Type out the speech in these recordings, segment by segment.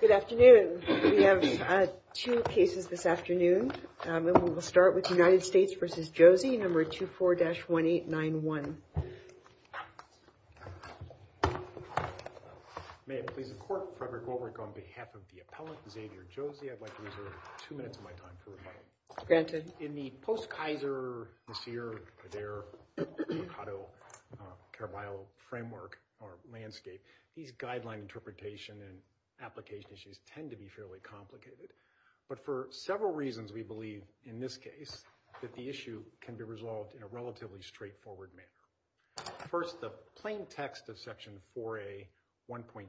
Good afternoon. We have two cases this afternoon. And we will start with United States v. Josey, number 24-1891. May it please the court, Frederick Wohlberg on behalf of the appellant Xavier Josey, I'd like to reserve two minutes of my time for rebuttal. In the post-Kaiser, Messire, Adair, Mercado, Caraballo framework or landscape, these guideline interpretation and application issues tend to be fairly complicated. But for several reasons, we believe in this case that the issue can be resolved in a relatively straightforward manner. First, the plain text of Section 4A.1.2.2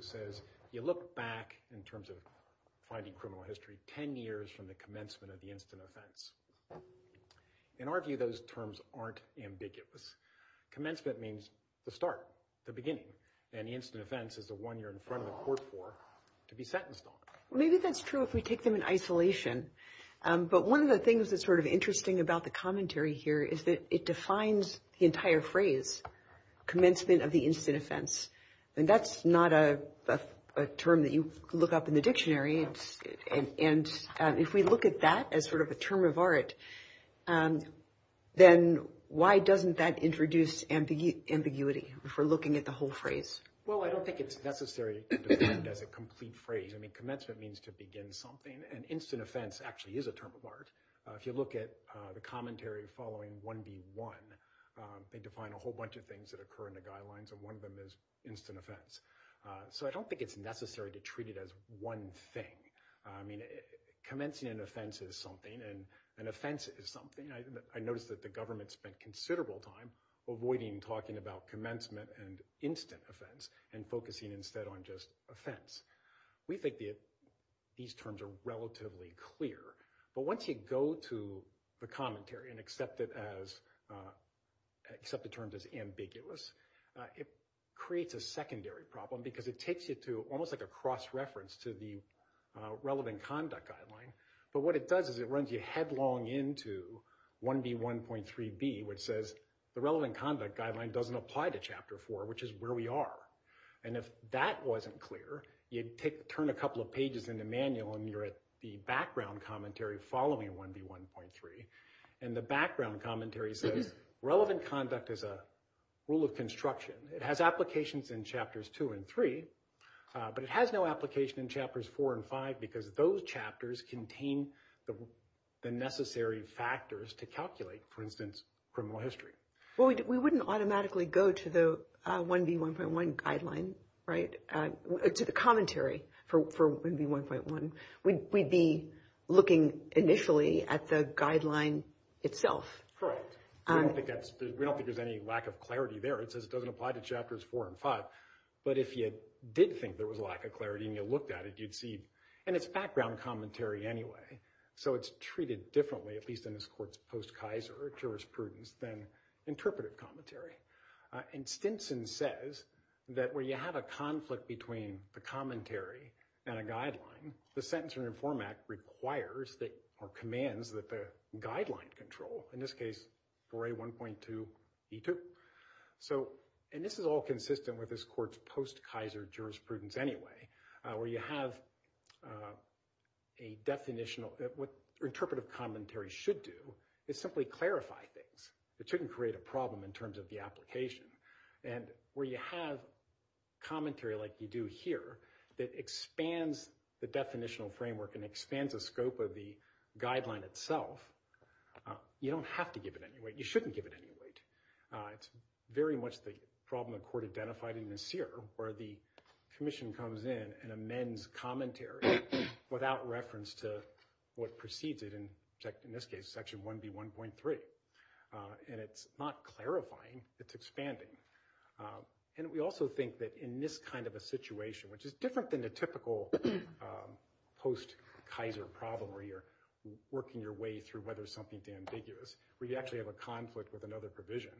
says you look back in terms of finding criminal history 10 years from the commencement of the instant offense. In our view, those terms aren't ambiguous. Commencement means the start, the beginning. And the instant offense is the one you're in front of the court for to be sentenced on. Well, maybe that's true if we take them in isolation. But one of the things that's sort of interesting about the commentary here is that it defines the entire phrase, commencement of the instant offense. And that's not a term that you look up in the dictionary. And if we look at that as sort of a term of art, then why doesn't that introduce ambiguity for looking at the whole phrase? Well, I don't think it's necessary to define it as a complete phrase. I mean, commencement means to begin something. And instant offense actually is a term of art. If you look at the commentary following 1B.1, they define a whole bunch of things that occur in the guidelines, and one of them is instant offense. So I don't think it's necessary to treat it as one thing. I mean, commencing an offense is something, and an offense is something. I noticed that the government spent considerable time avoiding talking about commencement and instant offense and focusing instead on just offense. We think that these terms are relatively clear. But once you go to the commentary and accept it as – accept the terms as ambiguous, it creates a secondary problem because it takes you to almost like a cross-reference to the relevant conduct guideline. But what it does is it runs you headlong into 1B.1.3b, which says the relevant conduct guideline doesn't apply to Chapter 4, which is where we are. And if that wasn't clear, you'd turn a couple of pages in the manual and you're at the background commentary following 1B.1.3. And the background commentary says relevant conduct is a rule of construction. It has applications in Chapters 2 and 3, but it has no application in Chapters 4 and 5 because those chapters contain the necessary factors to calculate, for instance, criminal history. Well, we wouldn't automatically go to the 1B.1.1 guideline, right? To the commentary for 1B.1.1. We'd be looking initially at the guideline itself. Correct. We don't think there's any lack of clarity there. It says it doesn't apply to Chapters 4 and 5. But if you did think there was a lack of clarity and you looked at it, you'd see. And it's background commentary anyway, so it's treated differently, at least in this court's post-Kaiser jurisprudence, than interpretive commentary. And Stinson says that where you have a conflict between the commentary and a guideline, the Sentencing Reform Act requires or commands that the guideline control, in this case 4A.1.2b.2. And this is all consistent with this court's post-Kaiser jurisprudence anyway, where you have a definitional. What interpretive commentary should do is simply clarify things. It shouldn't create a problem in terms of the application. And where you have commentary like you do here that expands the definitional framework and expands the scope of the guideline itself, you don't have to give it any weight. It's very much the problem the court identified in the seer, where the commission comes in and amends commentary without reference to what precedes it, in this case Section 1B.1.3. And it's not clarifying, it's expanding. And we also think that in this kind of a situation, which is different than the typical post-Kaiser problem where you're working your way through whether something's ambiguous, where you actually have a conflict with another provision,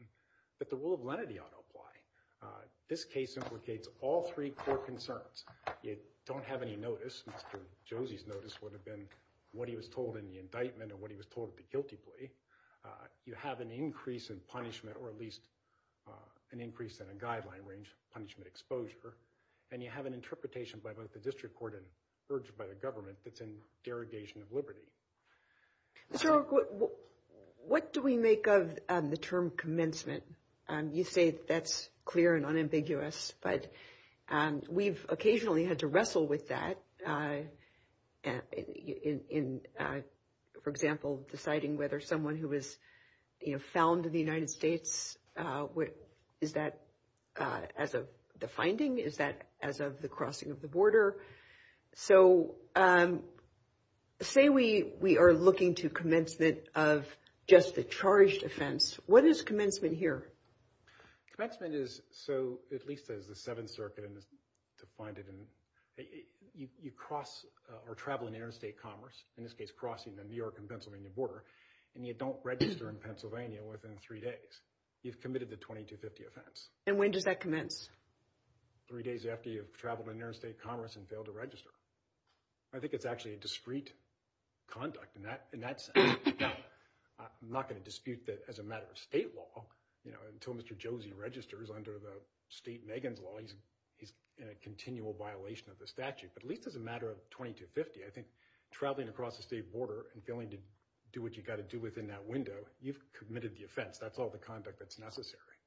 that the rule of lenity ought to apply. This case implicates all three core concerns. You don't have any notice. Mr. Josie's notice would have been what he was told in the indictment or what he was told at the guilty plea. You have an increase in punishment or at least an increase in a guideline range, punishment exposure, and you have an interpretation by both the district court and urged by the government that's in derogation of liberty. So what do we make of the term commencement? You say that's clear and unambiguous, but we've occasionally had to wrestle with that in, for example, deciding whether someone who was found in the United States, is that as of the finding, is that as of the crossing of the border? So say we are looking to commencement of just the charged offense. What is commencement here? Commencement is, so at least as the Seventh Circuit has defined it, you cross or travel in interstate commerce, in this case crossing the New York and Pennsylvania border, and you don't register in Pennsylvania within three days. You've committed the 2250 offense. And when does that commence? Three days after you've traveled in interstate commerce and failed to register. I think it's actually a discreet conduct in that sense. Now, I'm not going to dispute that as a matter of state law, you know, until Mr. Josie registers under the state Megan's law, he's in a continual violation of the statute. But at least as a matter of 2250, I think traveling across the state border and going to do what you got to do within that window, you've committed the offense. That's all the conduct that's necessary.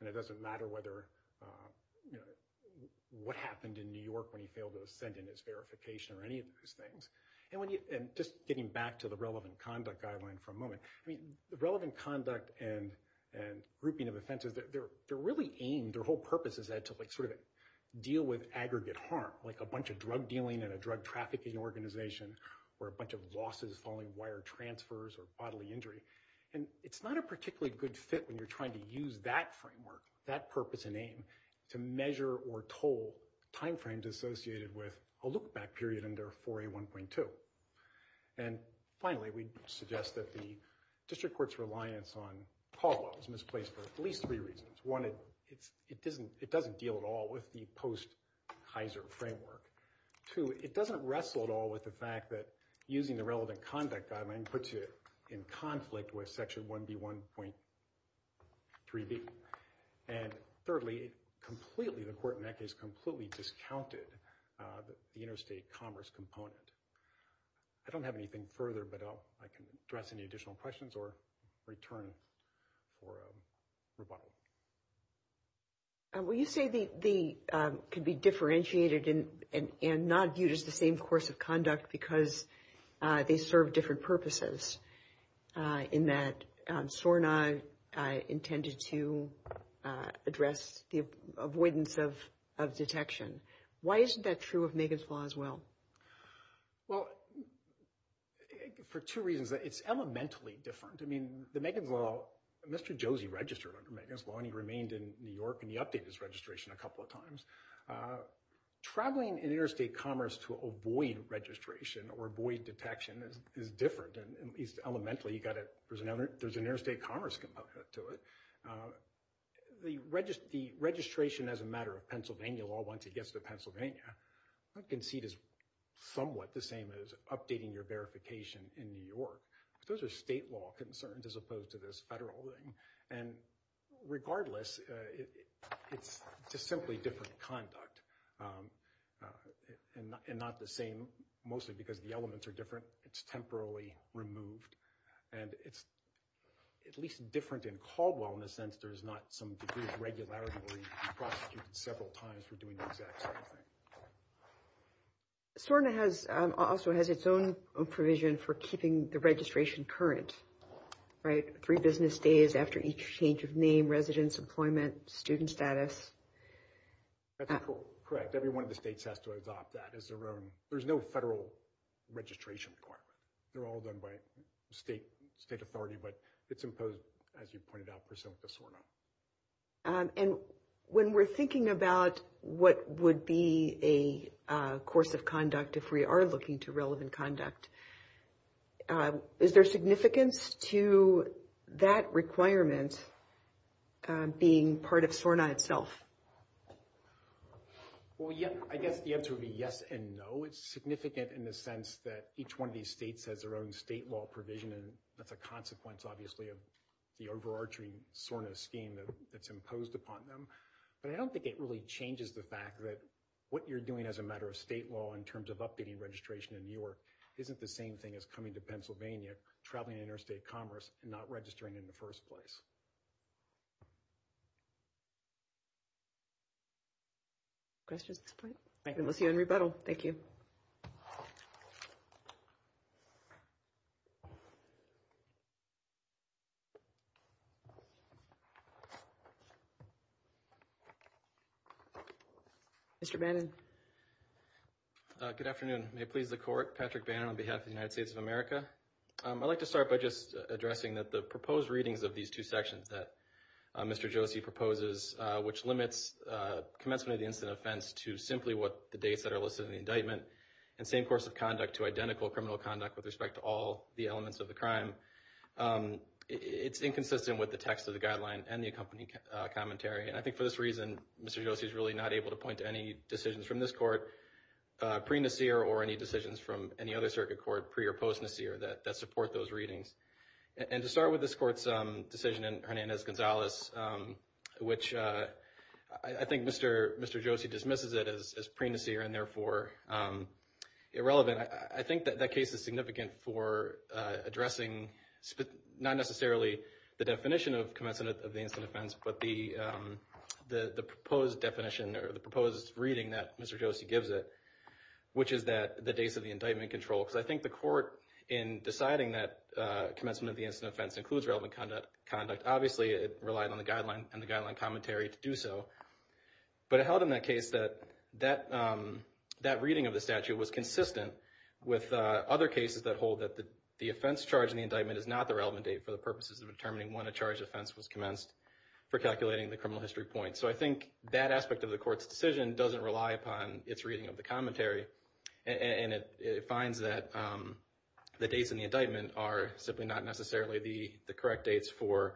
And it doesn't matter whether, you know, what happened in New York when he failed to send in his verification or any of those things. And just getting back to the relevant conduct guideline for a moment, I mean, the relevant conduct and grouping of offenses, they're really aimed, their whole purpose is to sort of deal with aggregate harm, like a bunch of drug dealing and a drug trafficking organization, or a bunch of losses following wire transfers or bodily injury. And it's not a particularly good fit when you're trying to use that framework, that purpose and aim, to measure or toll timeframes associated with a look-back period under 4A1.2. And finally, we suggest that the district court's reliance on CAWLA was misplaced for at least three reasons. One, it doesn't deal at all with the post-Kaiser framework. Two, it doesn't wrestle at all with the fact that using the relevant conduct guideline puts you in conflict with Section 1B1.3b. And thirdly, completely, the court in that case completely discounted the interstate commerce component. I don't have anything further, but I can address any additional questions or return for a rebuttal. Well, you say they could be differentiated and not viewed as the same course of conduct because they serve different purposes, in that SORNA intended to address the avoidance of detection. Why isn't that true of Megan's Law as well? Well, for two reasons. It's elementally different. I mean, the Megan's Law, Mr. Josie registered under Megan's Law and he remained in New York and he updated his registration a couple of times. Traveling in interstate commerce to avoid registration or avoid detection is different, at least elementally. There's an interstate commerce component to it. The registration as a matter of Pennsylvania law, once it gets to Pennsylvania, I can see it as somewhat the same as updating your verification in New York. Those are state law concerns as opposed to this federal thing. And regardless, it's just simply different conduct and not the same, mostly because the elements are different. It's temporarily removed and it's at least different in Caldwell in the sense there's not some degree of regularity where you can be prosecuted several times for doing the exact same thing. SORNA also has its own provision for keeping the registration current, right? Three business days after each change of name, residence, employment, student status. That's correct. Every one of the states has to adopt that as their own. There's no federal registration requirement. They're all done by state authority, but it's imposed, as you pointed out, personally with SORNA. And when we're thinking about what would be a course of conduct if we are looking to relevant conduct, is there significance to that requirement being part of SORNA itself? Well, I guess the answer would be yes and no. Well, it's significant in the sense that each one of these states has their own state law provision, and that's a consequence, obviously, of the overarching SORNA scheme that's imposed upon them. But I don't think it really changes the fact that what you're doing as a matter of state law in terms of updating registration in New York isn't the same thing as coming to Pennsylvania, traveling interstate commerce, and not registering in the first place. Questions at this point? We'll see you in rebuttal. Thank you. Mr. Bannon. Good afternoon. May it please the Court, Patrick Bannon on behalf of the United States of America. I'd like to start by just addressing that the proposed readings of these two sections that Mr. Josie proposes, which limits commencement of the incident offense to simply what the dates that are listed in the indictment and same course of conduct to identical criminal conduct with respect to all the elements of the crime, it's inconsistent with the text of the guideline and the accompanying commentary. And I think for this reason, Mr. Josie is really not able to point to any decisions from this Court pre-Nasir or any decisions from any other circuit court pre- or post-Nasir that support those readings. And to start with this Court's decision in Hernandez-Gonzalez, which I think Mr. Josie dismisses it as pre-Nasir and therefore irrelevant, I think that that case is significant for addressing not necessarily the definition of commencement of the incident offense, but the proposed definition or the proposed reading that Mr. Josie gives it, which is that the dates of the indictment control. Because I think the Court, in deciding that commencement of the incident offense includes relevant conduct, obviously it relied on the guideline and the guideline commentary to do so. But it held in that case that that reading of the statute was consistent with other cases that hold that the offense charge in the indictment is not the relevant date for the purposes of determining when a charge offense was commenced for calculating the criminal history point. So I think that aspect of the Court's decision doesn't rely upon its reading of the commentary. And it finds that the dates in the indictment are simply not necessarily the correct dates for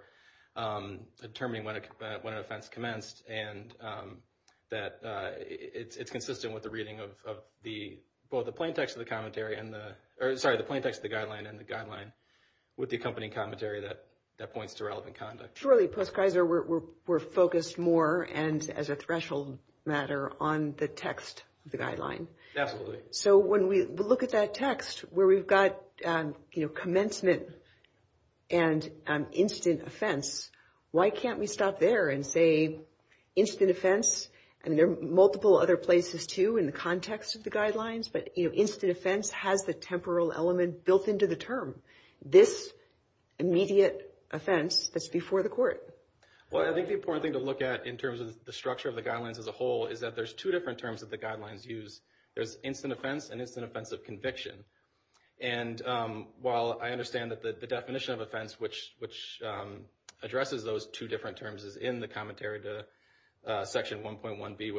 determining when an offense commenced. And that it's consistent with the reading of both the plain text of the guideline and the guideline with the accompanying commentary that points to relevant conduct. Surely, Post-Keiser, we're focused more, and as a threshold matter, on the text of the guideline. Absolutely. So when we look at that text where we've got commencement and incident offense, why can't we stop there and say incident offense, and there are multiple other places too in the context of the guidelines, but incident offense has the temporal element built into the term. This immediate offense that's before the Court. Well, I think the important thing to look at in terms of the structure of the guidelines as a whole is that there's two different terms that the guidelines use. There's incident offense and incident offense of conviction. And while I understand that the definition of offense which addresses those two different terms is in the commentary to Section 1B.1.1,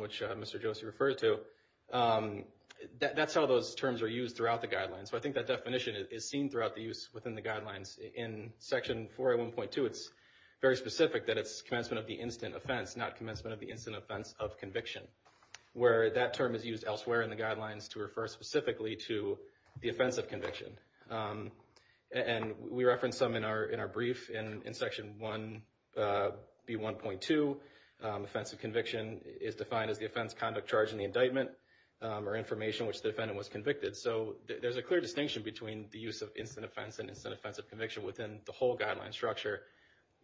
which Mr. Josie referred to, that's how those terms are used throughout the guidelines. So I think that definition is seen throughout the use within the guidelines. In Section 4A.1.2, it's very specific that it's commencement of the incident offense, not commencement of the incident offense of conviction, where that term is used elsewhere in the guidelines to refer specifically to the offense of conviction. And we reference some in our brief. In Section 1B.1.2, offense of conviction is defined as the offense, conduct, charge, and the indictment or information which the defendant was convicted. So there's a clear distinction between the use of incident offense and incident offense of conviction within the whole guideline structure.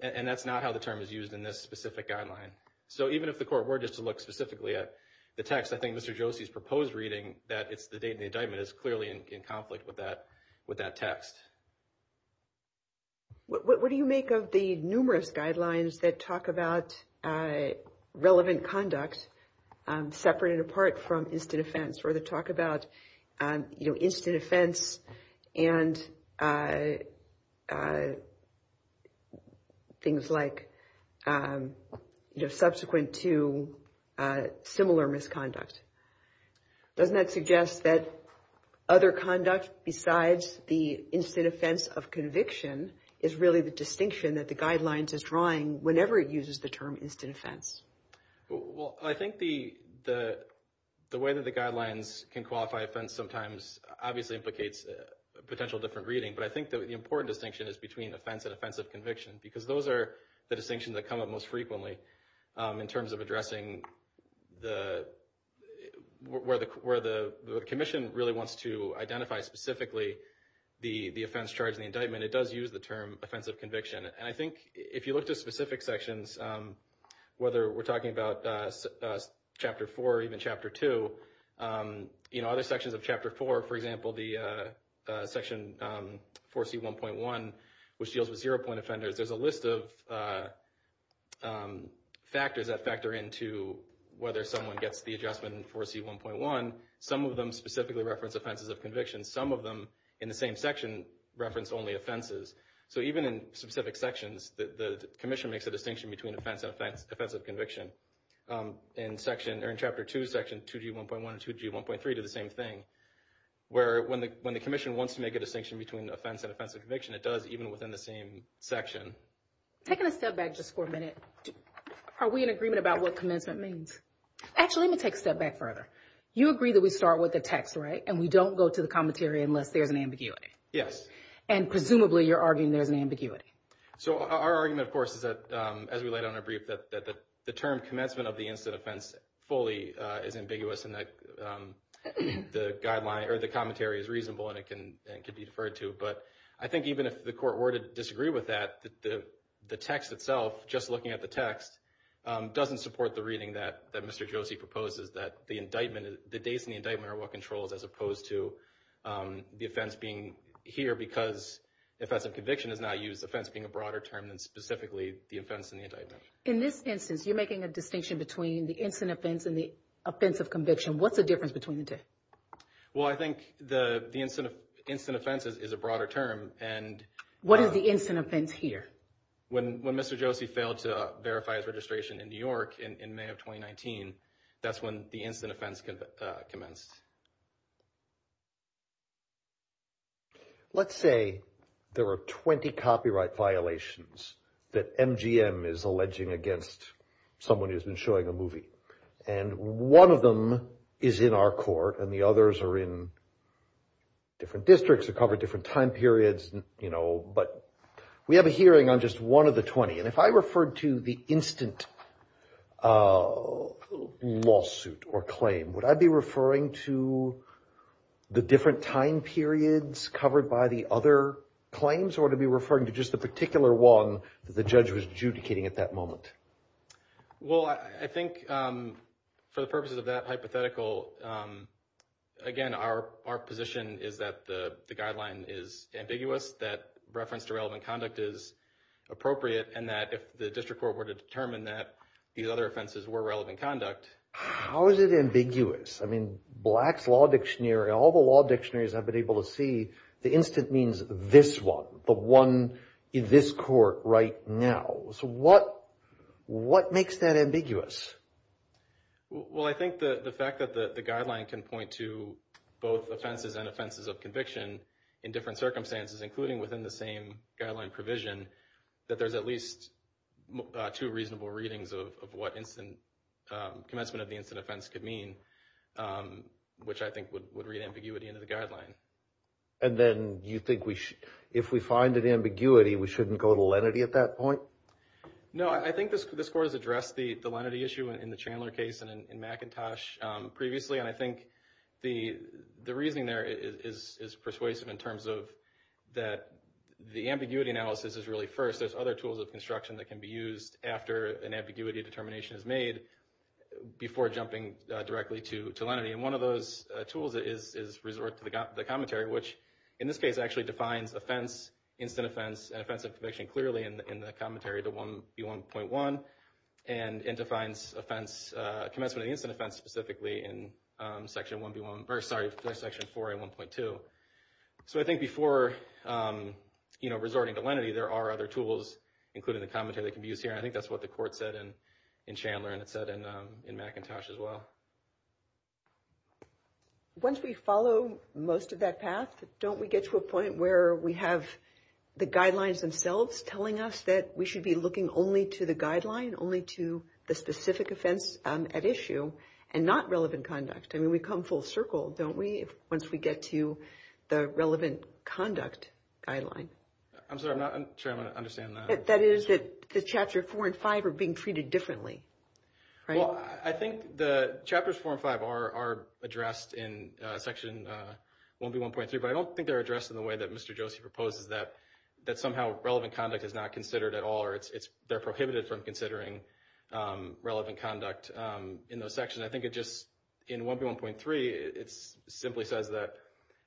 And that's not how the term is used in this specific guideline. So even if the Court were just to look specifically at the text, I think Mr. Josie's proposed reading that it's the date and the indictment is clearly in conflict with that text. What do you make of the numerous guidelines that talk about relevant conduct separate and apart from incident offense? Or they talk about incident offense and things like subsequent to similar misconduct. Doesn't that suggest that other conduct besides the incident offense of conviction is really the distinction that the guidelines is drawing whenever it uses the term incident offense? Well, I think the way that the guidelines can qualify offense sometimes obviously implicates a potential different reading. But I think the important distinction is between offense and offense of conviction. Because those are the distinctions that come up most frequently in terms of addressing where the commission really wants to identify specifically the offense, charge, and the indictment. It does use the term offense of conviction. And I think if you look to specific sections, whether we're talking about Chapter 4 or even Chapter 2, other sections of Chapter 4, for example, the section 4C1.1, which deals with zero-point offenders, there's a list of factors that factor into whether someone gets the adjustment in 4C1.1. Some of them specifically reference offenses of conviction. Some of them in the same section reference only offenses. So even in specific sections, the commission makes a distinction between offense and offense of conviction. In Chapter 2, Section 2G1.1 and 2G1.3 do the same thing. Where when the commission wants to make a distinction between offense and offense of conviction, it does even within the same section. Taking a step back just for a minute, are we in agreement about what commencement means? Actually, let me take a step back further. You agree that we start with the text, right? And we don't go to the commentary unless there's an ambiguity. Yes. And presumably, you're arguing there's an ambiguity. So our argument, of course, is that, as we laid out in our brief, that the term commencement of the incident offense fully is ambiguous, and that the commentary is reasonable and it can be deferred to. But I think even if the court were to disagree with that, the text itself, just looking at the text, doesn't support the reading that Mr. Josie proposes, that the dates in the indictment are what controls as opposed to the offense being here because offensive conviction is not used, offense being a broader term than specifically the offense and the indictment. In this instance, you're making a distinction between the incident offense and the offense of conviction. What's the difference between the two? Well, I think the incident offense is a broader term. What is the incident offense here? When Mr. Josie failed to verify his registration in New York in May of 2019, that's when the incident offense commenced. Let's say there were 20 copyright violations that MGM is alleging against someone who's been showing a movie, and one of them is in our court and the others are in different districts that cover different time periods. We have a hearing on just one of the 20, and if I referred to the instant lawsuit or claim, would I be referring to the different time periods covered by the other claims, or would I be referring to just the particular one that the judge was adjudicating at that moment? Well, I think for the purposes of that hypothetical, again, our position is that the guideline is ambiguous, that reference to relevant conduct is appropriate, and that if the district court were to determine that these other offenses were relevant conduct... How is it ambiguous? I mean, Black's Law Dictionary, all the law dictionaries I've been able to see, the instant means this one, the one in this court right now. So what makes that ambiguous? Well, I think the fact that the guideline can point to both offenses and offenses of conviction in different circumstances, including within the same guideline provision, that there's at least two reasonable readings of what commencement of the incident offense could mean, which I think would read ambiguity into the guideline. And then you think if we find an ambiguity, we shouldn't go to lenity at that point? No, I think this court has addressed the lenity issue in the Chandler case and in McIntosh previously, and I think the reasoning there is persuasive in terms of that the ambiguity analysis is really first. There's other tools of construction that can be used after an ambiguity determination is made before jumping directly to lenity, and one of those tools is resort to the commentary, which in this case actually defines offense, instant offense, and offense of conviction clearly in the commentary, the 1B1.1, and defines commencement of the incident offense specifically in Section 4A1.2. So I think before resorting to lenity, there are other tools, including the commentary, that can be used here, and I think that's what the court said in Chandler, and it said in McIntosh as well. Once we follow most of that path, don't we get to a point where we have the guidelines themselves telling us that we should be looking only to the guideline, only to the specific offense at issue, and not relevant conduct? I mean, we come full circle, don't we, once we get to the relevant conduct guideline? I'm sorry, I'm not sure I understand that. That is that the Chapters 4 and 5 are being treated differently, right? Well, I think the Chapters 4 and 5 are addressed in Section 1B1.3, but I don't think they're addressed in the way that Mr. Josie proposes, that somehow relevant conduct is not considered at all, or they're prohibited from considering relevant conduct in those sections. I think it just, in 1B1.3, it simply says that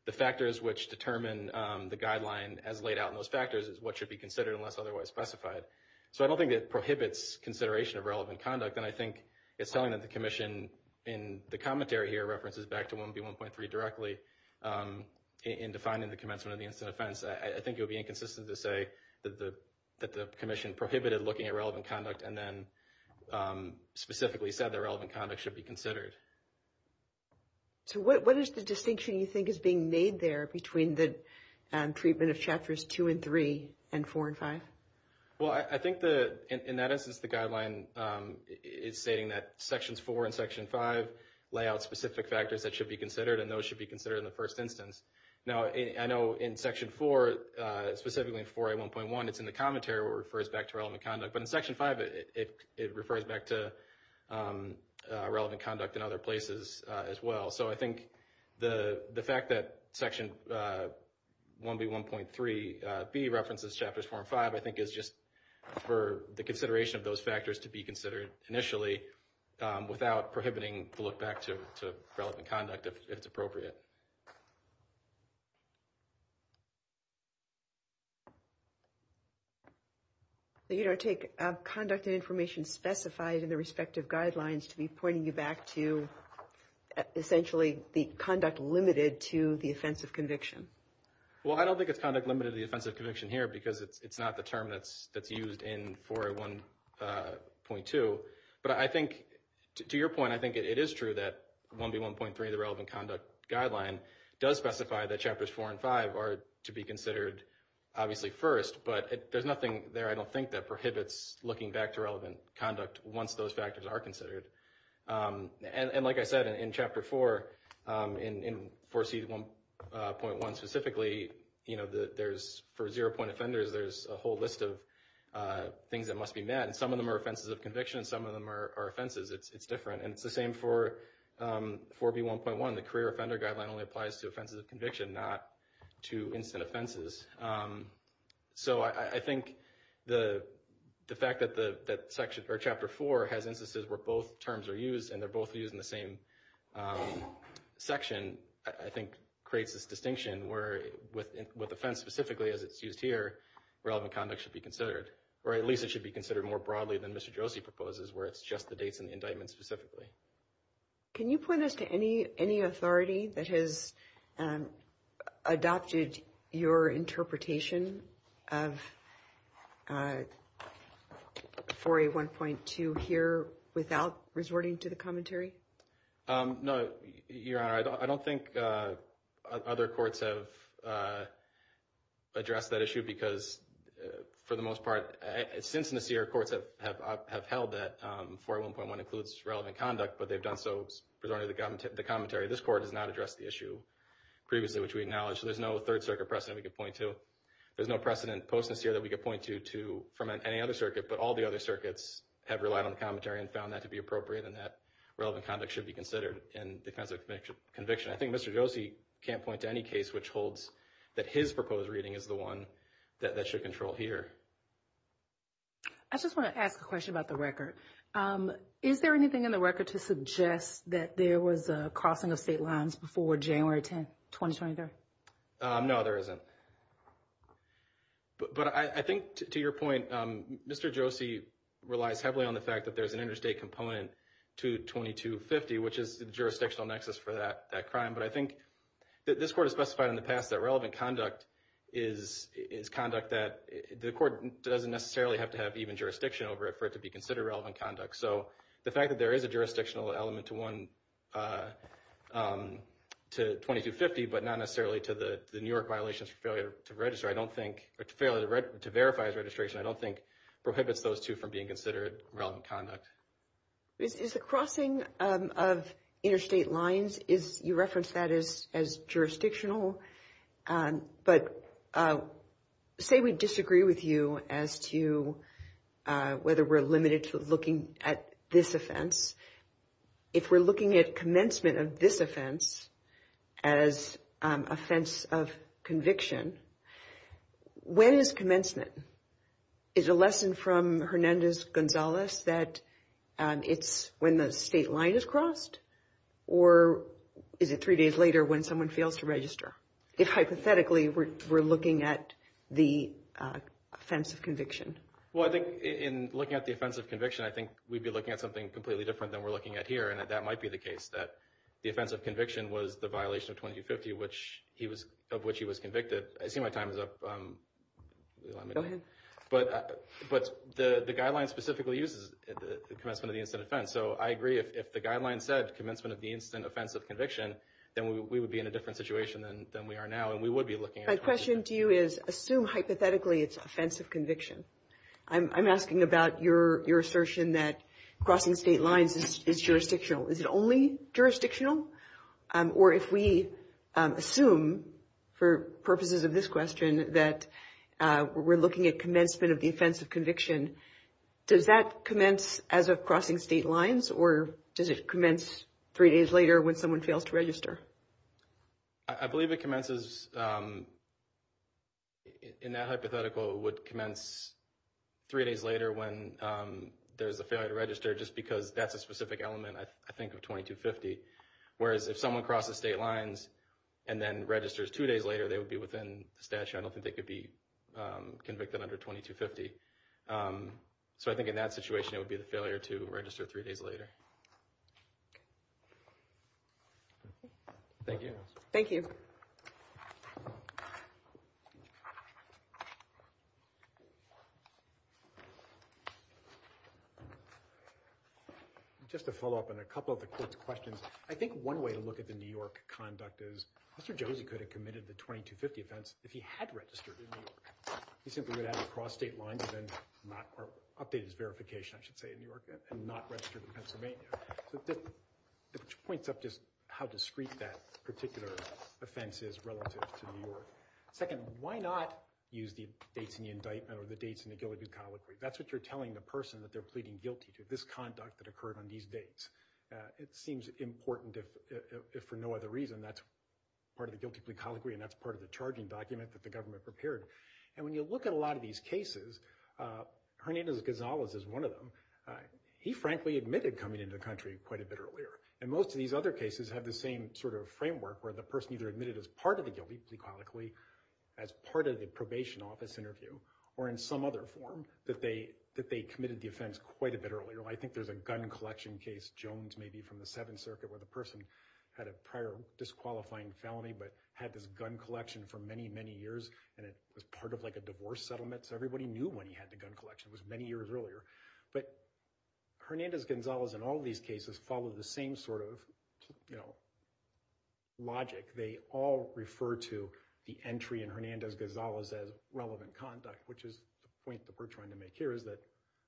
the factors which determine the guideline as laid out in those factors is what should be considered unless otherwise specified. So I don't think it prohibits consideration of relevant conduct, and I think it's telling that the Commission in the commentary here references back to 1B1.3 directly in defining the commencement of the incident offense. I think it would be inconsistent to say that the Commission prohibited looking at relevant conduct and then specifically said that relevant conduct should be considered. So what is the distinction you think is being made there between the treatment of Chapters 2 and 3 and 4 and 5? Well, I think in that instance, the guideline is stating that Sections 4 and Section 5 lay out specific factors that should be considered, and those should be considered in the first instance. Now, I know in Section 4, specifically in 4A1.1, it's in the commentary where it refers back to relevant conduct, but in Section 5, it refers back to relevant conduct in other places as well. So I think the fact that Section 1B1.3B references Chapters 4 and 5, I think is just for the consideration of those factors to be considered initially without prohibiting the look back to relevant conduct if it's appropriate. You don't take conduct and information specified in the respective guidelines to be pointing you back to essentially the conduct limited to the offense of conviction? Well, I don't think it's conduct limited to the offense of conviction here because it's not the term that's used in 4A1.2. But I think, to your point, I think it is true that 1B1.3, the relevant conduct guideline, does specify that Chapters 4 and 5 are to be considered, obviously, first, but there's nothing there, I don't think, that prohibits looking back to relevant conduct once those factors are considered. And like I said, in Chapter 4, in 4C1.1 specifically, for zero-point offenders, there's a whole list of things that must be met, and some of them are offenses of conviction and some of them are offenses. It's different, and it's the same for 4B1.1. The career offender guideline only applies to offenses of conviction, not to instant offenses. So I think the fact that Chapter 4 has instances where both terms are used and they're both used in the same section, I think, creates this distinction where, with offense specifically, as it's used here, relevant conduct should be considered. Or at least it should be considered more broadly than Mr. Josie proposes, where it's just the dates and the indictments specifically. Can you point us to any authority that has adopted your interpretation of 4A1.2 here without resorting to the commentary? No, Your Honor. I don't think other courts have addressed that issue because, for the most part, since this year, courts have held that 4A1.1 includes relevant conduct, but they've done so presumably the commentary. This Court has not addressed the issue previously, which we acknowledge. There's no Third Circuit precedent we could point to. There's no precedent post-this year that we could point to from any other circuit, but all the other circuits have relied on commentary and found that to be appropriate, and that relevant conduct should be considered in defense of conviction. I think Mr. Josie can't point to any case which holds that his proposed reading is the one that should control here. I just want to ask a question about the record. Is there anything in the record to suggest that there was a crossing of state lines before January 10, 2023? No, there isn't. But I think, to your point, Mr. Josie relies heavily on the fact that there's an interstate component to 2250, which is the jurisdictional nexus for that crime. But I think this Court has specified in the past that relevant conduct is conduct that the Court doesn't necessarily have to have even jurisdiction over it for it to be considered relevant conduct. So the fact that there is a jurisdictional element to 2250, but not necessarily to the New York violations for failure to register, or failure to verify his registration, I don't think prohibits those two from being considered relevant conduct. Is the crossing of interstate lines, you referenced that as jurisdictional, but say we disagree with you as to whether we're limited to looking at this offense. If we're looking at commencement of this offense as offense of conviction, when is commencement? Is a lesson from Hernandez-Gonzalez that it's when the state line is crossed, or is it three days later when someone fails to register? If, hypothetically, we're looking at the offense of conviction. Well, I think in looking at the offense of conviction, I think we'd be looking at something completely different than we're looking at here, and that might be the case, that the offense of conviction was the violation of 2250 of which he was convicted. I see my time is up. But the guidelines specifically uses commencement of the incident offense, so I agree if the guidelines said commencement of the incident offense of conviction, then we would be in a different situation than we are now, and we would be looking at 2250. My question to you is, assume hypothetically it's offense of conviction. I'm asking about your assertion that crossing state lines is jurisdictional. Is it only jurisdictional? Or if we assume, for purposes of this question, that we're looking at commencement of the offense of conviction, does that commence as of crossing state lines, or does it commence three days later when someone fails to register? I believe it commences, in that hypothetical, would commence three days later when there's a failure to register, just because that's a specific element, I think, of 2250. Whereas if someone crosses state lines and then registers two days later, they would be within the statute. I don't think they could be convicted under 2250. So I think in that situation it would be the failure to register three days later. Thank you. Thank you. Just to follow up on a couple of the court's questions, I think one way to look at the New York conduct is, Mr. Josie could have committed the 2250 offense if he had registered in New York. He simply would have crossed state lines and then updated his verification, I should say, in New York, and not registered in Pennsylvania. Which points up just how discreet that particular offense is relative to New York. Second, why not use the dates in the indictment or the dates in the Gilligan colloquy? That's what you're telling the person that they're pleading guilty to, this conduct that occurred on these dates. It seems important if for no other reason that's part of the guilty plea colloquy and that's part of the charging document that the government prepared. And when you look at a lot of these cases, Hernandez-Gonzalez is one of them. He frankly admitted coming into the country quite a bit earlier. And most of these other cases have the same sort of framework, where the person either admitted as part of the guilty plea colloquy, as part of the probation office interview, or in some other form, that they committed the offense quite a bit earlier. I think there's a gun collection case, Jones maybe, from the Seventh Circuit, where the person had a prior disqualifying felony but had this gun collection for many, many years. And it was part of a divorce settlement, so everybody knew when he had the gun collection. It was many years earlier. But Hernandez-Gonzalez in all these cases follow the same sort of logic. They all refer to the entry in Hernandez-Gonzalez as relevant conduct, which is the point that we're trying to make here, is that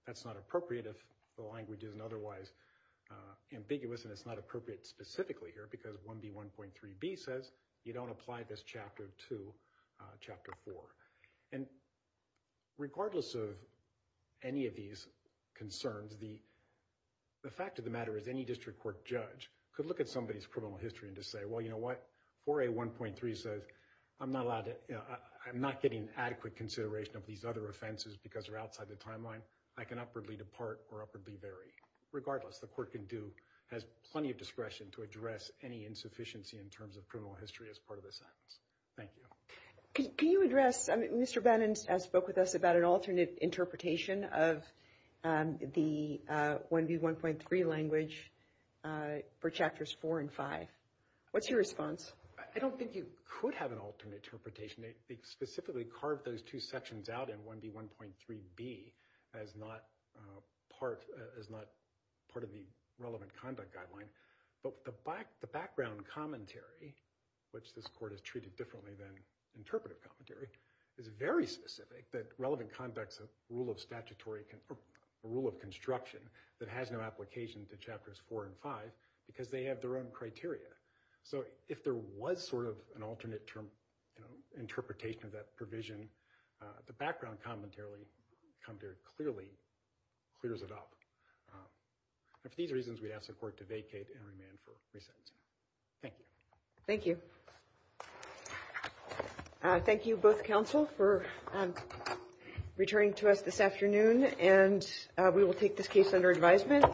that's not appropriate if the language isn't otherwise ambiguous, and it's not appropriate specifically here because 1B1.3b says you don't apply this chapter to Chapter 4. And regardless of any of these concerns, the fact of the matter is any district court judge could look at somebody's criminal history and just say, well, you know what? 4A1.3 says I'm not getting adequate consideration of these other offenses because they're outside the timeline. I can upwardly depart or upwardly vary. Regardless, the court has plenty of discretion to address any insufficiency in terms of criminal history as part of the sentence. Thank you. Can you address, Mr. Bannon spoke with us about an alternate interpretation of the 1B1.3 language for Chapters 4 and 5. What's your response? I don't think you could have an alternate interpretation. They specifically carved those two sections out in 1B1.3b as not part of the relevant conduct guideline. But the background commentary, which this court has treated differently than interpretive commentary, is very specific that relevant conduct is a rule of construction that has no application to Chapters 4 and 5 because they have their own criteria. So if there was sort of an alternate interpretation of that provision, the background commentary clears it up. For these reasons, we ask the court to vacate and remand for re-sentencing. Thank you. Thank you. Thank you, both counsel, for returning to us this afternoon, and we will take this case under advisement.